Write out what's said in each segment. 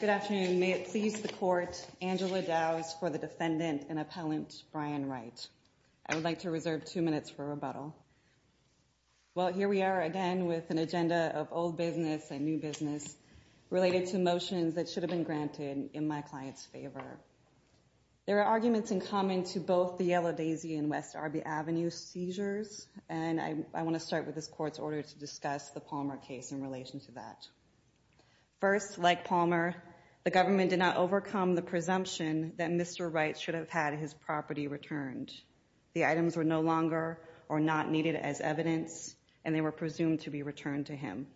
Good afternoon. May it please the court, Angela Dowes for the defendant and appellant Brian Wright. I would like to reserve two minutes for rebuttal. Well, here we are again with an agenda of old business and new business related to motions that should have been granted in my client's favor. There are arguments in common to both the Yellow Daisy and West Arby Avenue seizures, and I want to start with this court's order to discuss the Palmer case in relation to that. First, like Palmer, the government did not overcome the presumption that Mr. Wright should have had his property returned. The items were no longer or not needed as evidence, and they were presumed to be returned to him.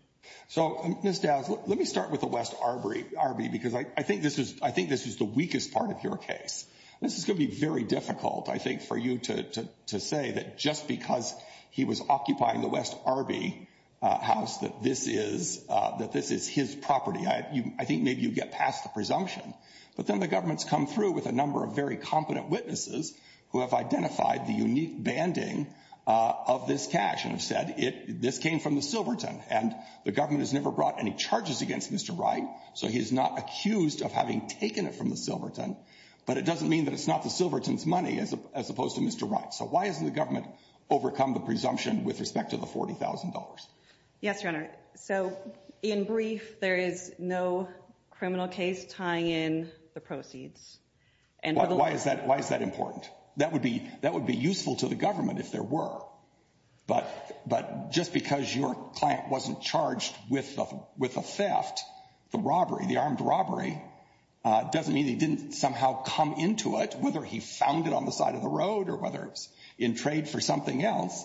So, Ms. Dowes, let me start with the West Arby because I think this is I think this is the weakest part of your case. This is going to be very difficult, I think, for you to say that just because he was occupying the West Arby house, that this is that this is his property. I think maybe you get past the presumption, but then the government's come through with a number of very competent witnesses who have identified the unique banding of this cash and have said it. This came from the Silverton and the government has never brought any charges against Mr. Wright. So he is not accused of having taken it from the Silverton. But it doesn't mean that it's not the Silverton's money as opposed to Mr. Wright. So why isn't the government overcome the presumption with respect to the forty thousand dollars? Yes, your honor. So in brief, there is no criminal case tying in the proceeds. And why is that? Why is that important? That would be that would be useful to the government if there were. But but just because your client wasn't charged with with a theft, the robbery, the armed robbery doesn't mean he didn't somehow come into it, whether he found it on the side of the road or whether it's in trade for something else.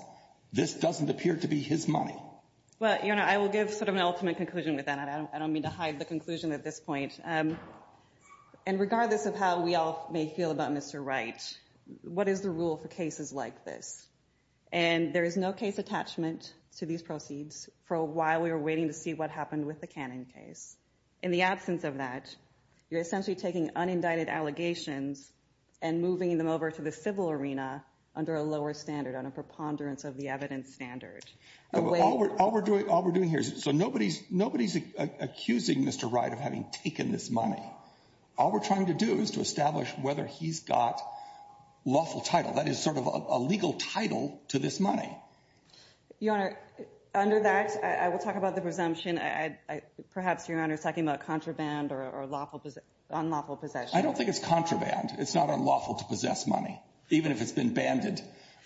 This doesn't appear to be his money. But, you know, I will give sort of an ultimate conclusion with that. And I don't mean to hide the conclusion at this point. And regardless of how we all may feel about Mr. Wright, what is the rule for cases like this? And there is no case attachment to these proceeds for a while. We were waiting to see what happened with the cannon case. In the absence of that, you're essentially taking unindicted allegations and moving them over to the civil arena under a lower standard on a preponderance of the evidence standard. All we're doing, all we're doing here is so nobody's nobody's accusing Mr. Wright of having taken this money. All we're trying to do is to establish whether he's got lawful title. That is sort of a legal title to this money. Your Honor, under that, I will talk about the presumption. I perhaps your honor's talking about contraband or lawful unlawful possession. I don't think it's contraband. It's not unlawful to possess money, even if it's been banded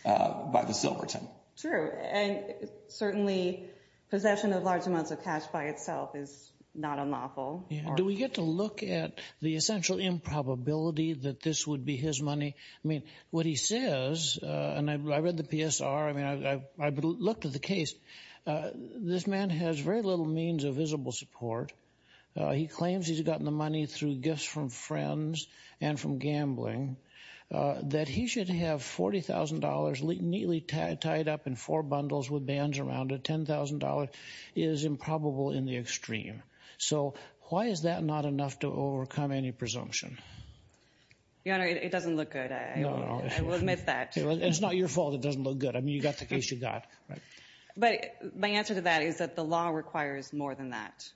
by the Silverton. True. And certainly possession of large amounts of cash by itself is not unlawful. Do we get to look at the essential improbability that this would be his money? I mean, what he says, and I read the PSR. I mean, I looked at the case. This man has very little means of visible support. He claims he's gotten the money through gifts from friends and from gambling that he should have. Forty thousand dollars neatly tied up in four bundles with bands around it. Ten thousand dollars is improbable in the extreme. So why is that not enough to overcome any presumption? Your Honor, it doesn't look good. I will admit that. It's not your fault it doesn't look good. I mean, you got the case you got. But my answer to that is that the law requires more than that.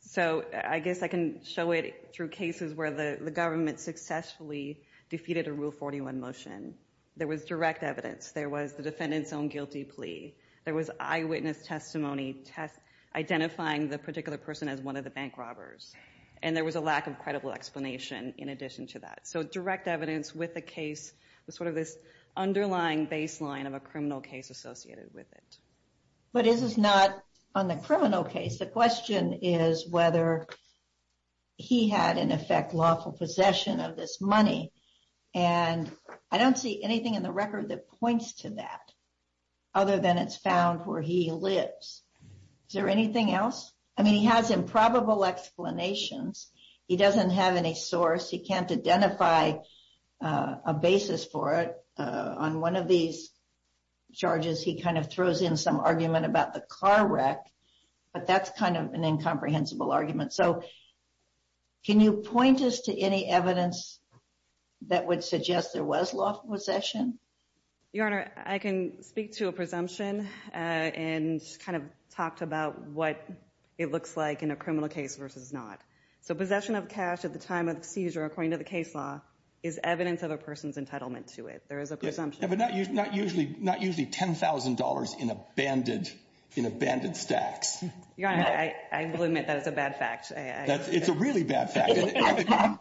So I guess I can show it through cases where the government successfully defeated a Rule 41 motion. There was direct evidence. There was the defendant's own guilty plea. There was eyewitness testimony identifying the particular person as one of the bank robbers. And there was a lack of credible explanation in addition to that. So direct evidence with the case was sort of this underlying baseline of a criminal case associated with it. But this is not on the criminal case. The question is whether he had, in effect, lawful possession of this money. And I don't see anything in the record that points to that other than it's found where he lives. Is there anything else? I mean, he has improbable explanations. He doesn't have any source. He can't identify a basis for it. On one of these charges, he kind of throws in some argument about the car wreck. But that's kind of an incomprehensible argument. So can you point us to any evidence that would suggest there was lawful possession? Your Honor, I can speak to a presumption and kind of talk about what it looks like in a criminal case versus not. So possession of cash at the time of seizure, according to the case law, is evidence of a person's entitlement to it. There is a presumption. But not usually $10,000 in abandoned stacks. Your Honor, I will admit that is a bad fact. It's a really bad fact.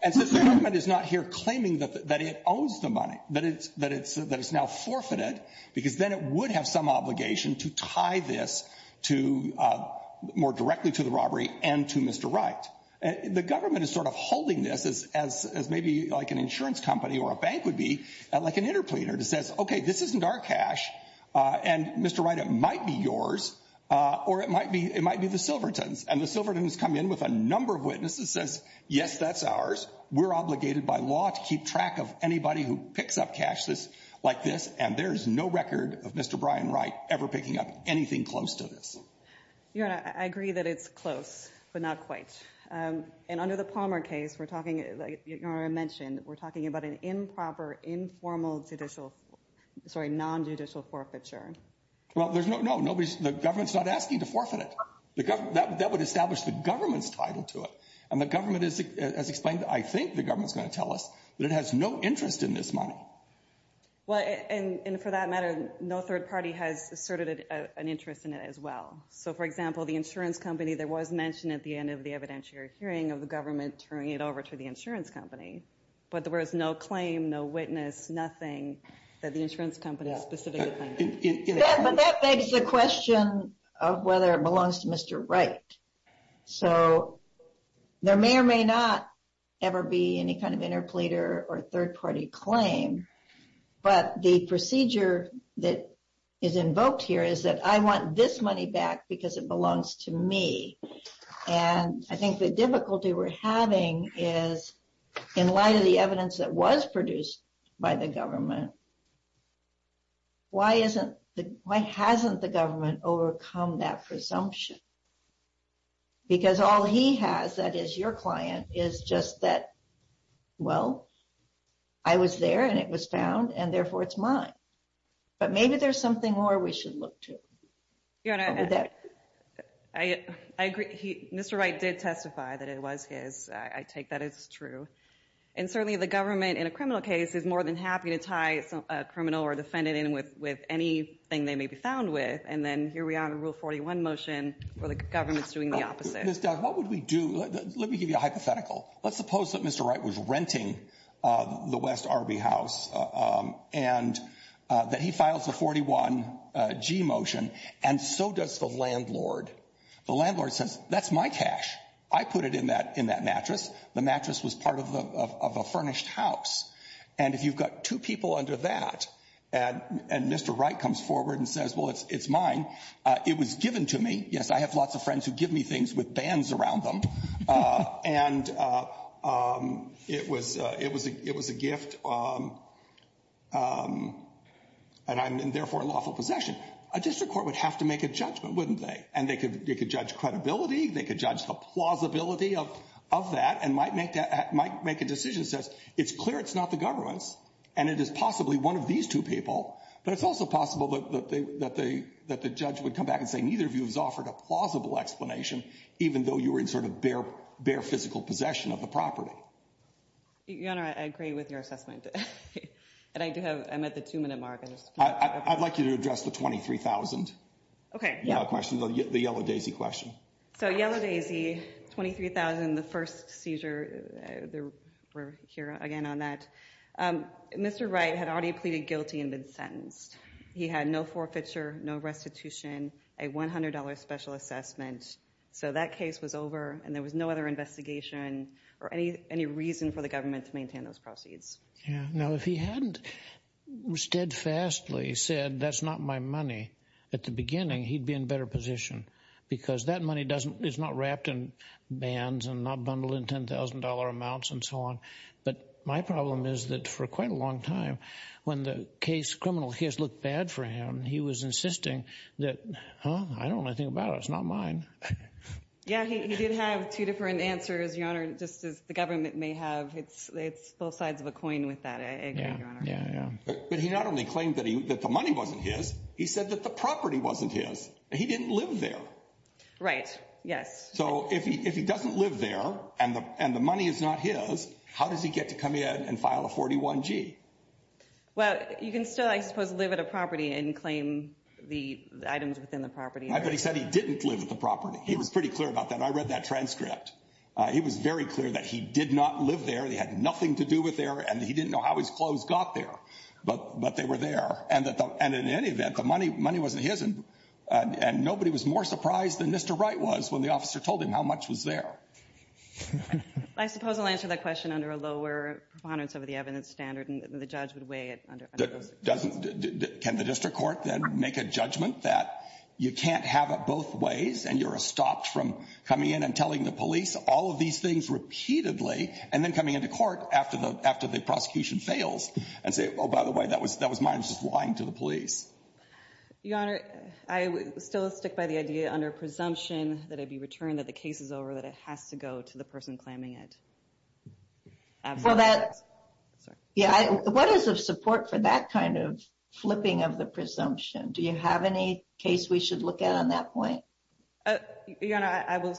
And since the government is not here claiming that it owns the money, that it's now forfeited, because then it would have some obligation to tie this more directly to the robbery and to Mr. Wright. The government is sort of holding this as maybe like an insurance company or a bank would be, like an interpleader, to say, okay, this isn't our cash, and Mr. Wright, it might be yours, or it might be the Silverton's. And the Silverton's come in with a number of witnesses, says, yes, that's ours. We're obligated by law to keep track of anybody who picks up cash like this, and there is no record of Mr. Brian Wright ever picking up anything close to this. Your Honor, I agree that it's close, but not quite. And under the Palmer case, we're talking, like Your Honor mentioned, we're talking about an improper, informal judicial, sorry, nonjudicial forfeiture. Well, no, the government's not asking to forfeit it. That would establish the government's title to it. And the government has explained, I think the government's going to tell us, that it has no interest in this money. Well, and for that matter, no third party has asserted an interest in it as well. So, for example, the insurance company, there was mention at the end of the evidentiary hearing of the government turning it over to the insurance company. But there was no claim, no witness, nothing that the insurance company specifically claimed. But that begs the question of whether it belongs to Mr. Wright. So, there may or may not ever be any kind of interpleader or third party claim. But the procedure that is invoked here is that I want this money back because it belongs to me. And I think the difficulty we're having is, in light of the evidence that was produced by the government, why hasn't the government overcome that presumption? Because all he has, that is your client, is just that, well, I was there and it was found, and therefore it's mine. But maybe there's something more we should look to. I agree. Mr. Wright did testify that it was his. I take that as true. And certainly the government, in a criminal case, is more than happy to tie a criminal or defendant in with anything they may be found with. And then here we are in a Rule 41 motion where the government's doing the opposite. Ms. Dodd, what would we do? Let me give you a hypothetical. Let's suppose that Mr. Wright was renting the West Arby house and that he files a 41G motion, and so does the landlord. The landlord says, that's my cash. I put it in that mattress. The mattress was part of a furnished house. And if you've got two people under that, and Mr. Wright comes forward and says, well, it's mine. It was given to me. Yes, I have lots of friends who give me things with bands around them. And it was a gift, and I'm therefore in lawful possession. A district court would have to make a judgment, wouldn't they? And they could judge credibility, they could judge the plausibility of that, and might make a decision that says, it's clear it's not the government's, and it is possibly one of these two people. But it's also possible that the judge would come back and say, neither of you has offered a plausible explanation, even though you were in sort of bare physical possession of the property. Your Honor, I agree with your assessment. And I do have, I'm at the two-minute mark. I'd like you to address the 23,000. Okay. The question, the yellow daisy question. So yellow daisy, 23,000, the first seizure, we're here again on that. Mr. Wright had already pleaded guilty and been sentenced. He had no forfeiture, no restitution, a $100 special assessment. So that case was over, and there was no other investigation or any reason for the government to maintain those proceeds. Now, if he hadn't steadfastly said, that's not my money at the beginning, he'd be in a better position. Because that money is not wrapped in bands and not bundled in $10,000 amounts and so on. But my problem is that for quite a long time, when the case criminal has looked bad for him, he was insisting that, huh, I don't want to think about it, it's not mine. Yeah, he did have two different answers, Your Honor, just as the government may have. It's both sides of a coin with that, I agree, Your Honor. Yeah, yeah. But he not only claimed that the money wasn't his, he said that the property wasn't his. He didn't live there. Right, yes. So if he doesn't live there and the money is not his, how does he get to come in and file a 41-G? Well, you can still, I suppose, live at a property and claim the items within the property. But he said he didn't live at the property. He was pretty clear about that. I read that transcript. He was very clear that he did not live there. They had nothing to do with there, and he didn't know how his clothes got there. But they were there. And in any event, the money wasn't his, and nobody was more surprised than Mr. Wright was when the officer told him how much was there. I suppose I'll answer that question under a lower preponderance of the evidence standard, and the judge would weigh it. Can the district court then make a judgment that you can't have it both ways, and you're stopped from coming in and telling the police all of these things repeatedly and then coming into court after the prosecution fails and say, oh, by the way, that was mine. I'm just lying to the police. Your Honor, I would still stick by the idea under presumption that it be returned, that the case is over, that it has to go to the person claiming it. Well, that, yeah, what is the support for that kind of flipping of the presumption? Do you have any case we should look at on that point? Your Honor, I will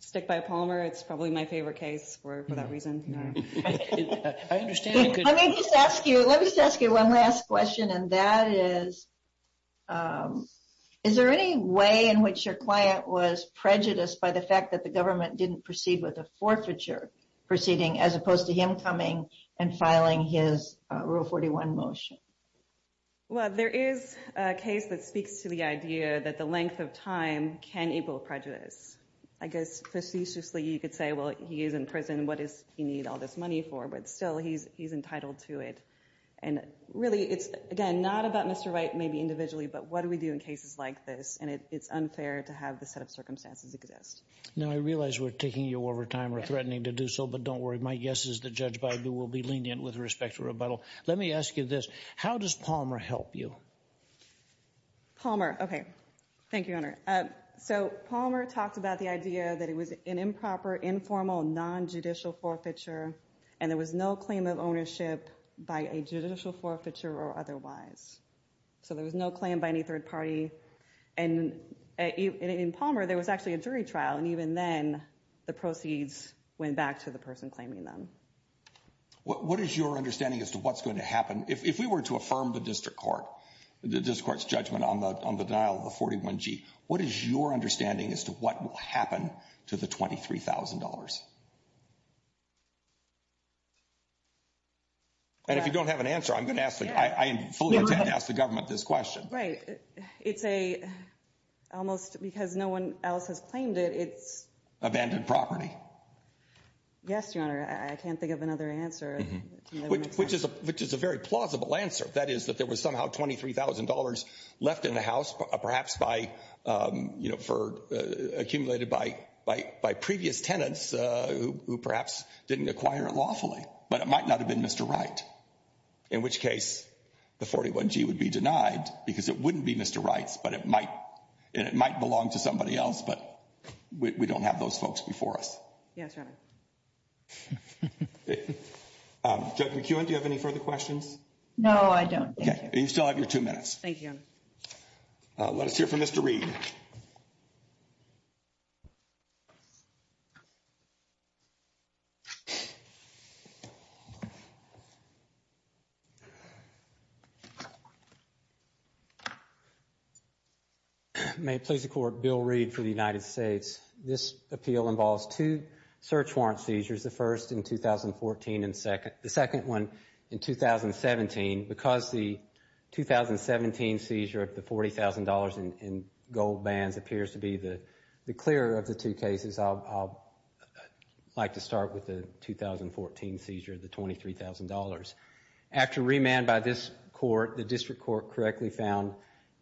stick by Palmer. It's probably my favorite case for that reason. I understand. Let me just ask you one last question, and that is, is there any way in which your client was prejudiced by the fact that the government didn't proceed with a forfeiture proceeding as opposed to him coming and filing his Rule 41 motion? Well, there is a case that speaks to the idea that the length of time can equal prejudice. I guess facetiously you could say, well, he is in prison. What does he need all this money for? But still, he's entitled to it. And really, it's, again, not about Mr. White maybe individually, but what do we do in cases like this? And it's unfair to have this set of circumstances exist. Now, I realize we're taking you over time or threatening to do so, but don't worry. My guess is that Judge Baidu will be lenient with respect to rebuttal. Let me ask you this. How does Palmer help you? Palmer. Okay. Thank you, Your Honor. So Palmer talked about the idea that it was an improper, informal, nonjudicial forfeiture, and there was no claim of ownership by a judicial forfeiture or otherwise. So there was no claim by any third party. And in Palmer, there was actually a jury trial, and even then, the proceeds went back to the person claiming them. What is your understanding as to what's going to happen? If we were to affirm the district court, the district court's judgment on the denial of the 41G, what is your understanding as to what will happen to the $23,000? And if you don't have an answer, I'm going to ask the government this question. Right. It's a almost because no one else has claimed it, it's. Abandoned property. Yes, Your Honor. I can't think of another answer. Which is a very plausible answer. That is that there was somehow $23,000 left in the house, perhaps by, you know, accumulated by previous tenants who perhaps didn't acquire it lawfully. But it might not have been Mr. Wright, in which case the 41G would be denied because it wouldn't be Mr. Wright's, and it might belong to somebody else, but we don't have those folks before us. Yes, Your Honor. Judge McEwen, do you have any further questions? No, I don't. Okay. You still have your two minutes. Thank you, Your Honor. Let us hear from Mr. Reed. May it please the Court, Bill Reed for the United States. This appeal involves two search warrant seizures, the first in 2014 and the second one in 2017. Because the 2017 seizure of the $40,000 in gold bands appears to be the clearer of the two cases, I'd like to start with the 2014 seizure of the $23,000. After remand by this court, the district court correctly found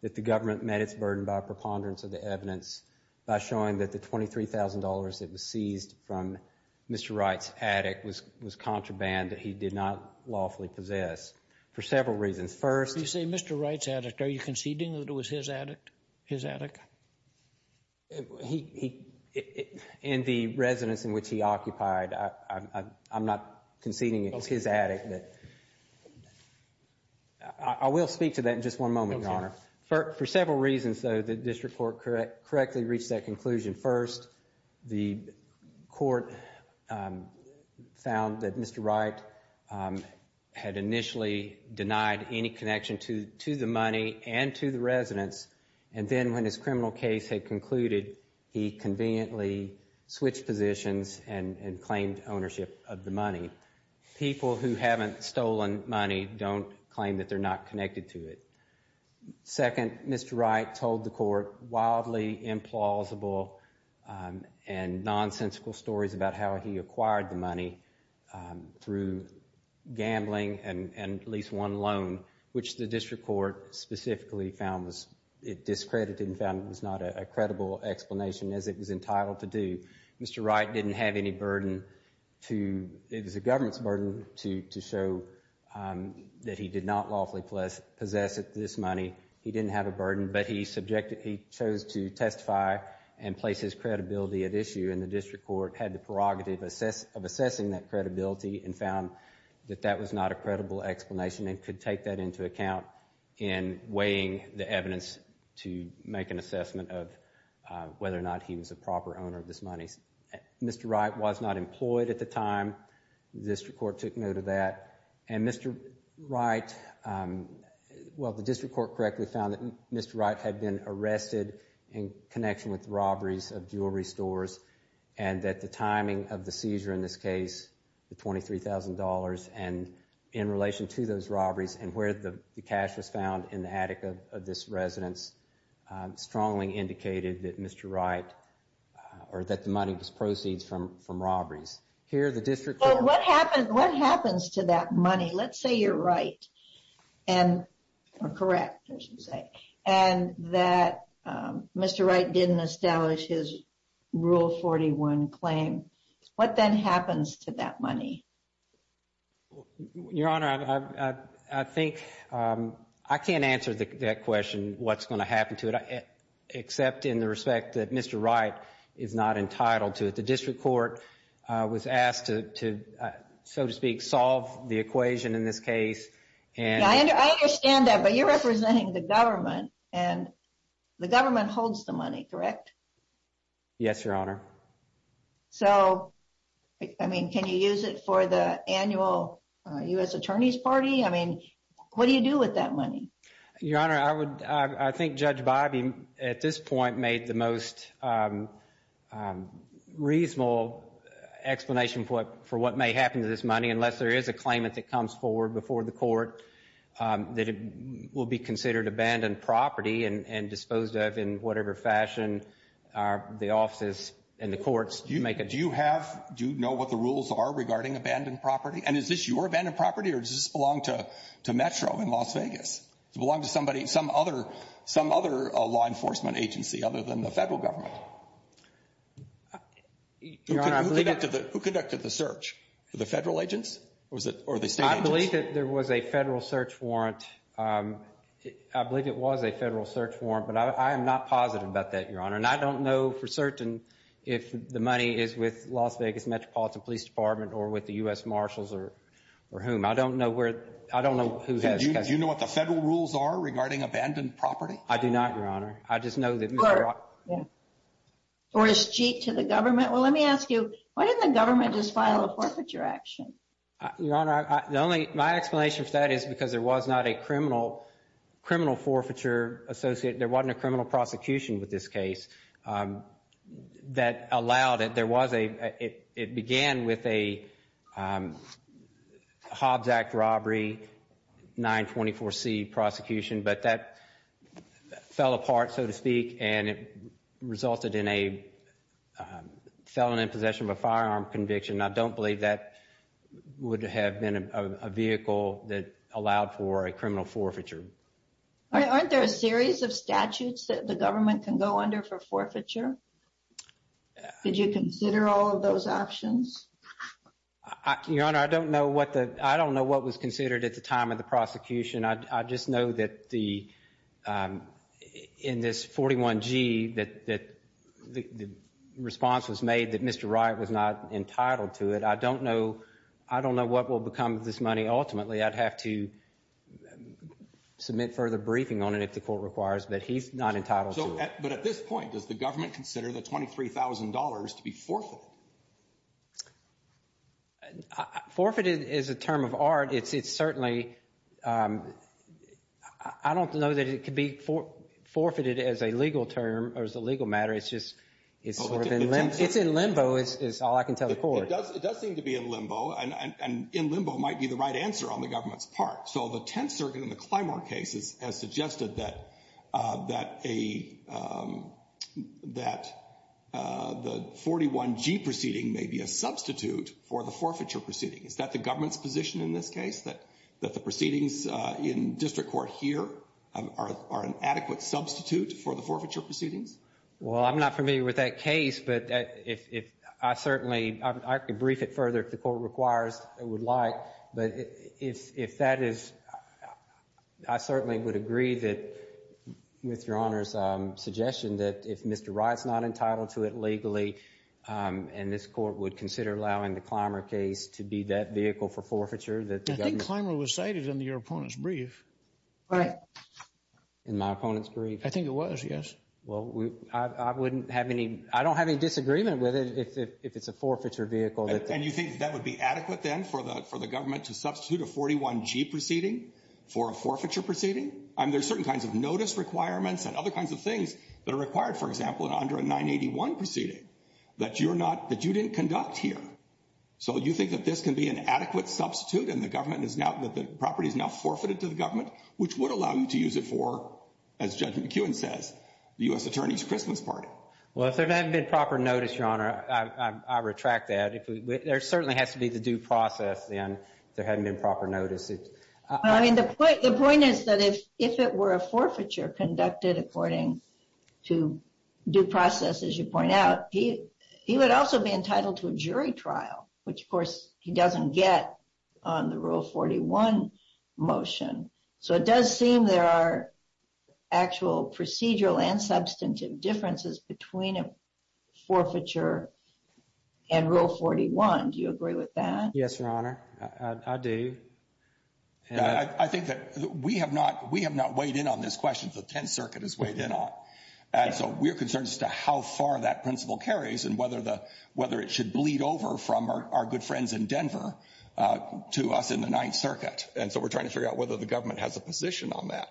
that the government met its burden by preponderance of the evidence by showing that the $23,000 that was seized from Mr. Wright's attic was contraband that he did not lawfully possess, for several reasons. First— You say Mr. Wright's attic. Are you conceding that it was his attic? In the residence in which he occupied, I'm not conceding it's his attic. I will speak to that in just one moment, Your Honor. Okay. For several reasons, though, the district court correctly reached that conclusion. First, the court found that Mr. Wright had initially denied any connection to the money and to the residence, and then when his criminal case had concluded, he conveniently switched positions and claimed ownership of the money. People who haven't stolen money don't claim that they're not connected to it. Second, Mr. Wright told the court wildly implausible and nonsensical stories about how he acquired the money through gambling and at least one loan, which the district court specifically found it discredited and found it was not a credible explanation as it was entitled to do. Mr. Wright didn't have any burden to—it was the government's burden to show that he did not lawfully possess this money. He didn't have a burden, but he chose to testify and place his credibility at issue, and the district court had the prerogative of assessing that credibility and found that that was not a credible explanation and could take that into account in weighing the evidence to make an assessment of whether or not he was a proper owner of this money. Mr. Wright was not employed at the time. The district court took note of that. And Mr. Wright—well, the district court correctly found that Mr. Wright had been arrested in connection with robberies of jewelry stores and that the timing of the seizure in this case, the $23,000, and in relation to those robberies and where the cash was found in the attic of this residence, strongly indicated that Mr. Wright—or that the money was proceeds from robberies. Here, the district court— Well, what happens to that money? Let's say you're right and—or correct, I should say—and that Mr. Wright didn't establish his Rule 41 claim. What then happens to that money? Your Honor, I think—I can't answer that question, what's going to happen to it, except in the respect that Mr. Wright is not entitled to it. The district court was asked to, so to speak, solve the equation in this case and— I understand that, but you're representing the government, and the government holds the money, correct? Yes, Your Honor. So, I mean, can you use it for the annual U.S. Attorney's Party? I mean, what do you do with that money? Your Honor, I would—I think Judge Bobbie, at this point, made the most reasonable explanation for what may happen to this money unless there is a claimant that comes forward before the court that it will be considered abandoned property and disposed of in whatever fashion the offices and the courts make it. Do you have—do you know what the rules are regarding abandoned property? And is this your abandoned property, or does this belong to Metro in Las Vegas? Does it belong to somebody—some other law enforcement agency other than the federal government? Your Honor, I believe that— Who conducted the search? The federal agents, or the state agents? I believe that there was a federal search warrant. I believe it was a federal search warrant, but I am not positive about that, Your Honor. And I don't know for certain if the money is with Las Vegas Metropolitan Police Department or with the U.S. Marshals or whom. I don't know where—I don't know who has— Do you know what the federal rules are regarding abandoned property? I do not, Your Honor. I just know that— Or is cheap to the government? Well, let me ask you, why didn't the government just file a forfeiture action? Your Honor, the only—my explanation for that is because there was not a criminal forfeiture associated— there wasn't a criminal prosecution with this case that allowed it. There was a—it began with a Hobbs Act robbery, 924C prosecution, but that fell apart, so to speak, and it resulted in a felon in possession of a firearm conviction. I don't believe that would have been a vehicle that allowed for a criminal forfeiture. Aren't there a series of statutes that the government can go under for forfeiture? Did you consider all of those options? Your Honor, I don't know what the—I don't know what was considered at the time of the prosecution. I just know that the—in this 41G, that the response was made that Mr. Wright was not entitled to it. I don't know—I don't know what will become of this money ultimately. I'd have to submit further briefing on it if the court requires that he's not entitled to it. But at this point, does the government consider the $23,000 to be forfeited? Forfeited is a term of art. It's certainly—I don't know that it could be forfeited as a legal term or as a legal matter. It's just—it's in limbo is all I can tell the court. It does seem to be in limbo, and in limbo might be the right answer on the government's part. So the Tenth Circuit in the Clymer case has suggested that a—that the 41G proceeding may be a substitute for the forfeiture proceeding. Is that the government's position in this case, that the proceedings in district court here are an adequate substitute for the forfeiture proceedings? Well, I'm not familiar with that case, but if—I certainly—I could brief it further if the court requires and would like. But if that is—I certainly would agree with Your Honor's suggestion that if Mr. Wright's not entitled to it legally and this court would consider allowing the Clymer case to be that vehicle for forfeiture that the government— I think Clymer was cited in your opponent's brief. In my opponent's brief? I think it was, yes. Well, I wouldn't have any—I don't have any disagreement with it if it's a forfeiture vehicle. And you think that would be adequate then for the government to substitute a 41G proceeding for a forfeiture proceeding? I mean, there's certain kinds of notice requirements and other kinds of things that are required, for example, in under a 981 proceeding that you're not—that you didn't conduct here. So you think that this can be an adequate substitute and the government is now—that the property is now forfeited to the government, which would allow you to use it for, as Judge McKeown says, the U.S. Attorney's Christmas party? Well, if there hadn't been proper notice, Your Honor, I retract that. There certainly has to be the due process then if there hadn't been proper notice. I mean, the point is that if it were a forfeiture conducted according to due process, as you point out, he would also be entitled to a jury trial, which, of course, he doesn't get on the Rule 41 motion. So it does seem there are actual procedural and substantive differences between a forfeiture and Rule 41. Do you agree with that? Yes, Your Honor, I do. I think that we have not—we have not weighed in on this question. The Tenth Circuit has weighed in on it. And so we're concerned as to how far that principle carries and whether it should bleed over from our good friends in Denver to us in the Ninth Circuit. And so we're trying to figure out whether the government has a position on that.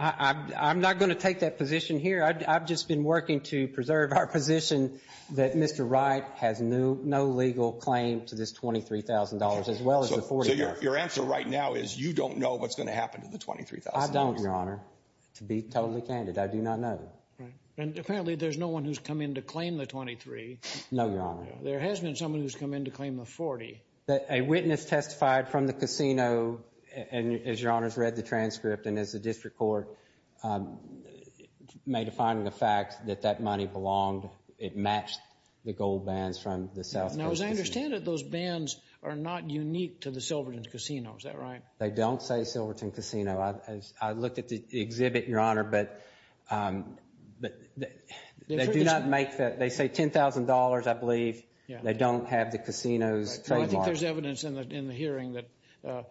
I'm not going to take that position here. I've just been working to preserve our position that Mr. Wright has no legal claim to this $23,000 as well as the $40,000. So your answer right now is you don't know what's going to happen to the $23,000? I don't, Your Honor, to be totally candid. I do not know. And apparently there's no one who's come in to claim the $23,000. No, Your Honor. There has been someone who's come in to claim the $40,000. A witness testified from the casino, and as Your Honor's read the transcript and as the district court made a finding of fact that that money belonged—it matched the gold bands from the South Coast Casino. Now, as I understand it, those bands are not unique to the Silverton Casino. Is that right? They don't say Silverton Casino. I looked at the exhibit, Your Honor, but they do not make that—they say $10,000, I believe. They don't have the casino's trademark. Well, I think there's evidence in the hearing that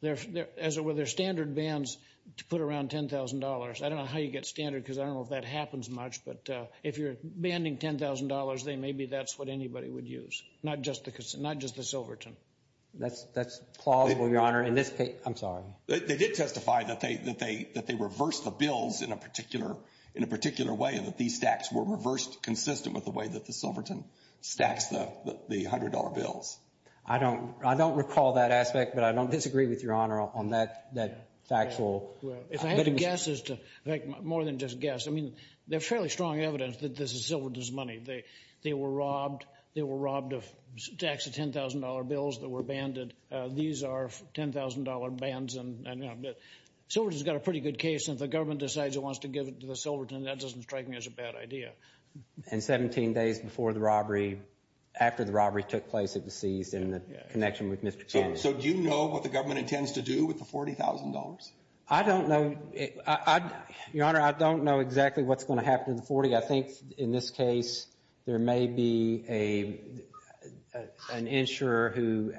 there are standard bands to put around $10,000. I don't know how you get standard because I don't know if that happens much, but if you're banding $10,000, then maybe that's what anybody would use, not just the Silverton. That's plausible, Your Honor. In this case—I'm sorry. They did testify that they reversed the bills in a particular way, that these stacks were reversed consistent with the way that the Silverton stacks the $100 bills. I don't recall that aspect, but I don't disagree with Your Honor on that factual— If I had to guess, more than just guess, I mean, there's fairly strong evidence that this is Silverton's money. They were robbed. They were robbed of stacks of $10,000 bills that were banded. These are $10,000 bands. Silverton's got a pretty good case, and if the government decides it wants to give it to the Silverton, that doesn't strike me as a bad idea. And 17 days before the robbery, after the robbery took place, it was seized in the connection with Mr. Cannon. So do you know what the government intends to do with the $40,000? I don't know. Your Honor, I don't know exactly what's going to happen to the $40,000. I think in this case there may be an insurer who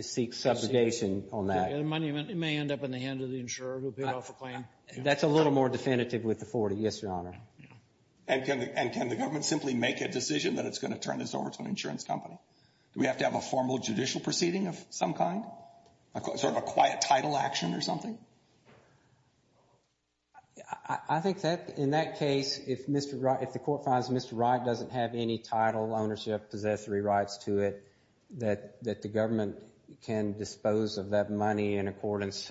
seeks subsidization on that. It may end up in the hands of the insurer who paid off a claim. That's a little more definitive with the $40,000, yes, Your Honor. And can the government simply make a decision that it's going to turn this over to an insurance company? Do we have to have a formal judicial proceeding of some kind? Sort of a quiet title action or something? I think that in that case, if the court finds Mr. Wright doesn't have any title, ownership, possessory rights to it, that the government can dispose of that money in accordance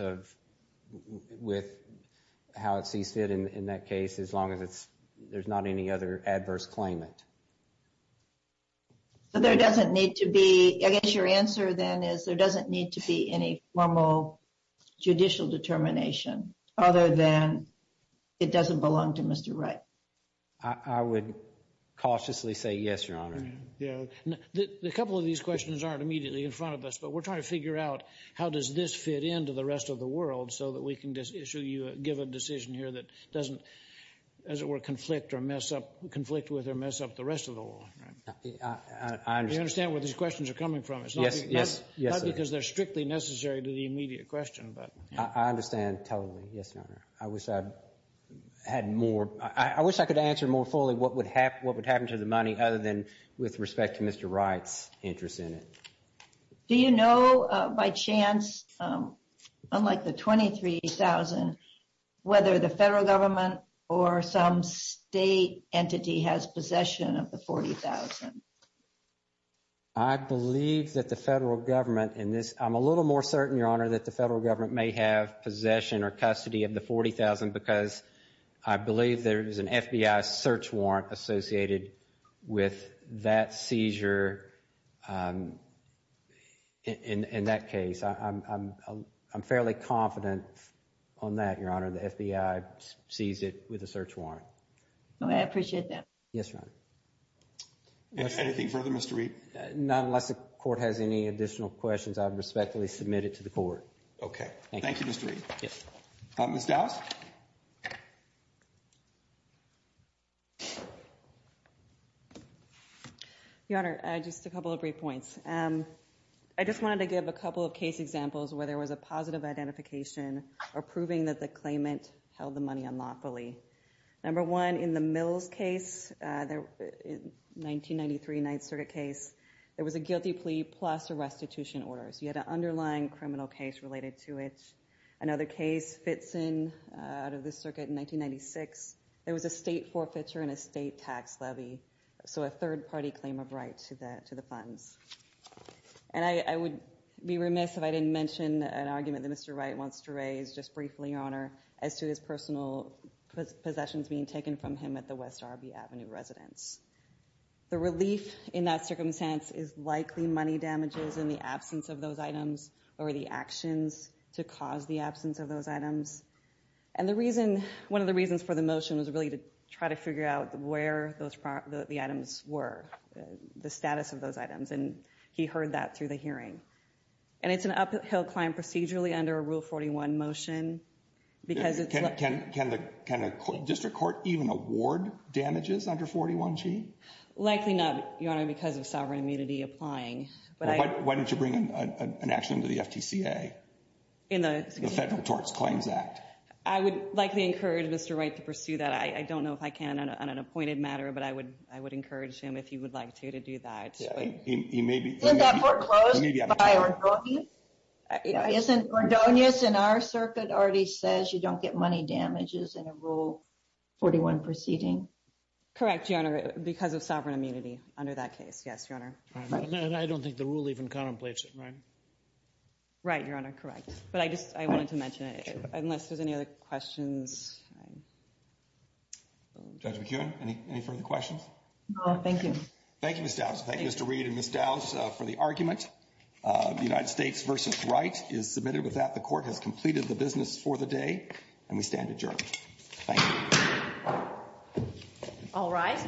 with how it sees fit in that case, as long as there's not any other adverse claimant. So there doesn't need to be, I guess your answer then is there doesn't need to be any formal judicial determination other than it doesn't belong to Mr. Wright. I would cautiously say yes, Your Honor. A couple of these questions aren't immediately in front of us, but we're trying to figure out how does this fit into the rest of the world so that we can issue you, give a decision here that doesn't, as it were, conflict or mess up, conflict with or mess up the rest of the world. Do you understand where these questions are coming from? Yes, yes. Not because they're strictly necessary to the immediate question. I understand totally, yes, Your Honor. I wish I had more, I wish I could answer more fully what would happen to the money other than with respect to Mr. Wright's interest in it. Do you know by chance, unlike the $23,000, whether the federal government or some state entity has possession of the $40,000? I believe that the federal government in this, I'm a little more certain, Your Honor, that the federal government may have possession or custody of the $40,000 because I believe there is an FBI search warrant associated with that seizure in that case. I'm fairly confident on that, Your Honor. The FBI sees it with a search warrant. I appreciate that. Yes, Your Honor. Anything further, Mr. Reed? Not unless the court has any additional questions, I respectfully submit it to the court. Okay. Thank you, Mr. Reed. Yes. Ms. Dowse? Your Honor, just a couple of brief points. I just wanted to give a couple of case examples where there was a positive identification or proving that the claimant held the money unlawfully. Number one, in the Mills case, 1993 Ninth Circuit case, there was a guilty plea plus a restitution order, so you had an underlying criminal case related to it. Another case fits in out of the circuit in 1996. There was a state forfeiture and a state tax levy, so a third-party claim of right to the funds. And I would be remiss if I didn't mention an argument that Mr. Wright wants to raise, just briefly, Your Honor, as to his personal possessions being taken from him at the West Arby Avenue residence. The relief in that circumstance is likely money damages in the absence of those items or the actions to cause the absence of those items. And one of the reasons for the motion was really to try to figure out where the items were, the status of those items, and he heard that through the hearing. And it's an uphill climb procedurally under a Rule 41 motion because it's like— Can a district court even award damages under 41G? Likely not, Your Honor, because of sovereign immunity applying. Why don't you bring an action to the FTCA, the Federal Tort Claims Act? I would likely encourage Mr. Wright to pursue that. I don't know if I can on an appointed matter, but I would encourage him, if he would like to, to do that. Isn't that foreclosed by Ordonez? Isn't Ordonez in our circuit already says you don't get money damages in a Rule 41 proceeding? Correct, Your Honor, because of sovereign immunity under that case, yes, Your Honor. And I don't think the rule even contemplates it, right? Right, Your Honor, correct. But I just wanted to mention it, unless there's any other questions. Judge McEwen, any further questions? No, thank you. Thank you, Ms. Dowse. Thank you, Mr. Reed and Ms. Dowse, for the argument. The United States v. Wright is submitted with that. The Court has completed the business for the day, and we stand adjourned. Thank you. All rise.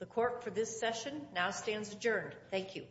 The Court for this session now stands adjourned. Thank you.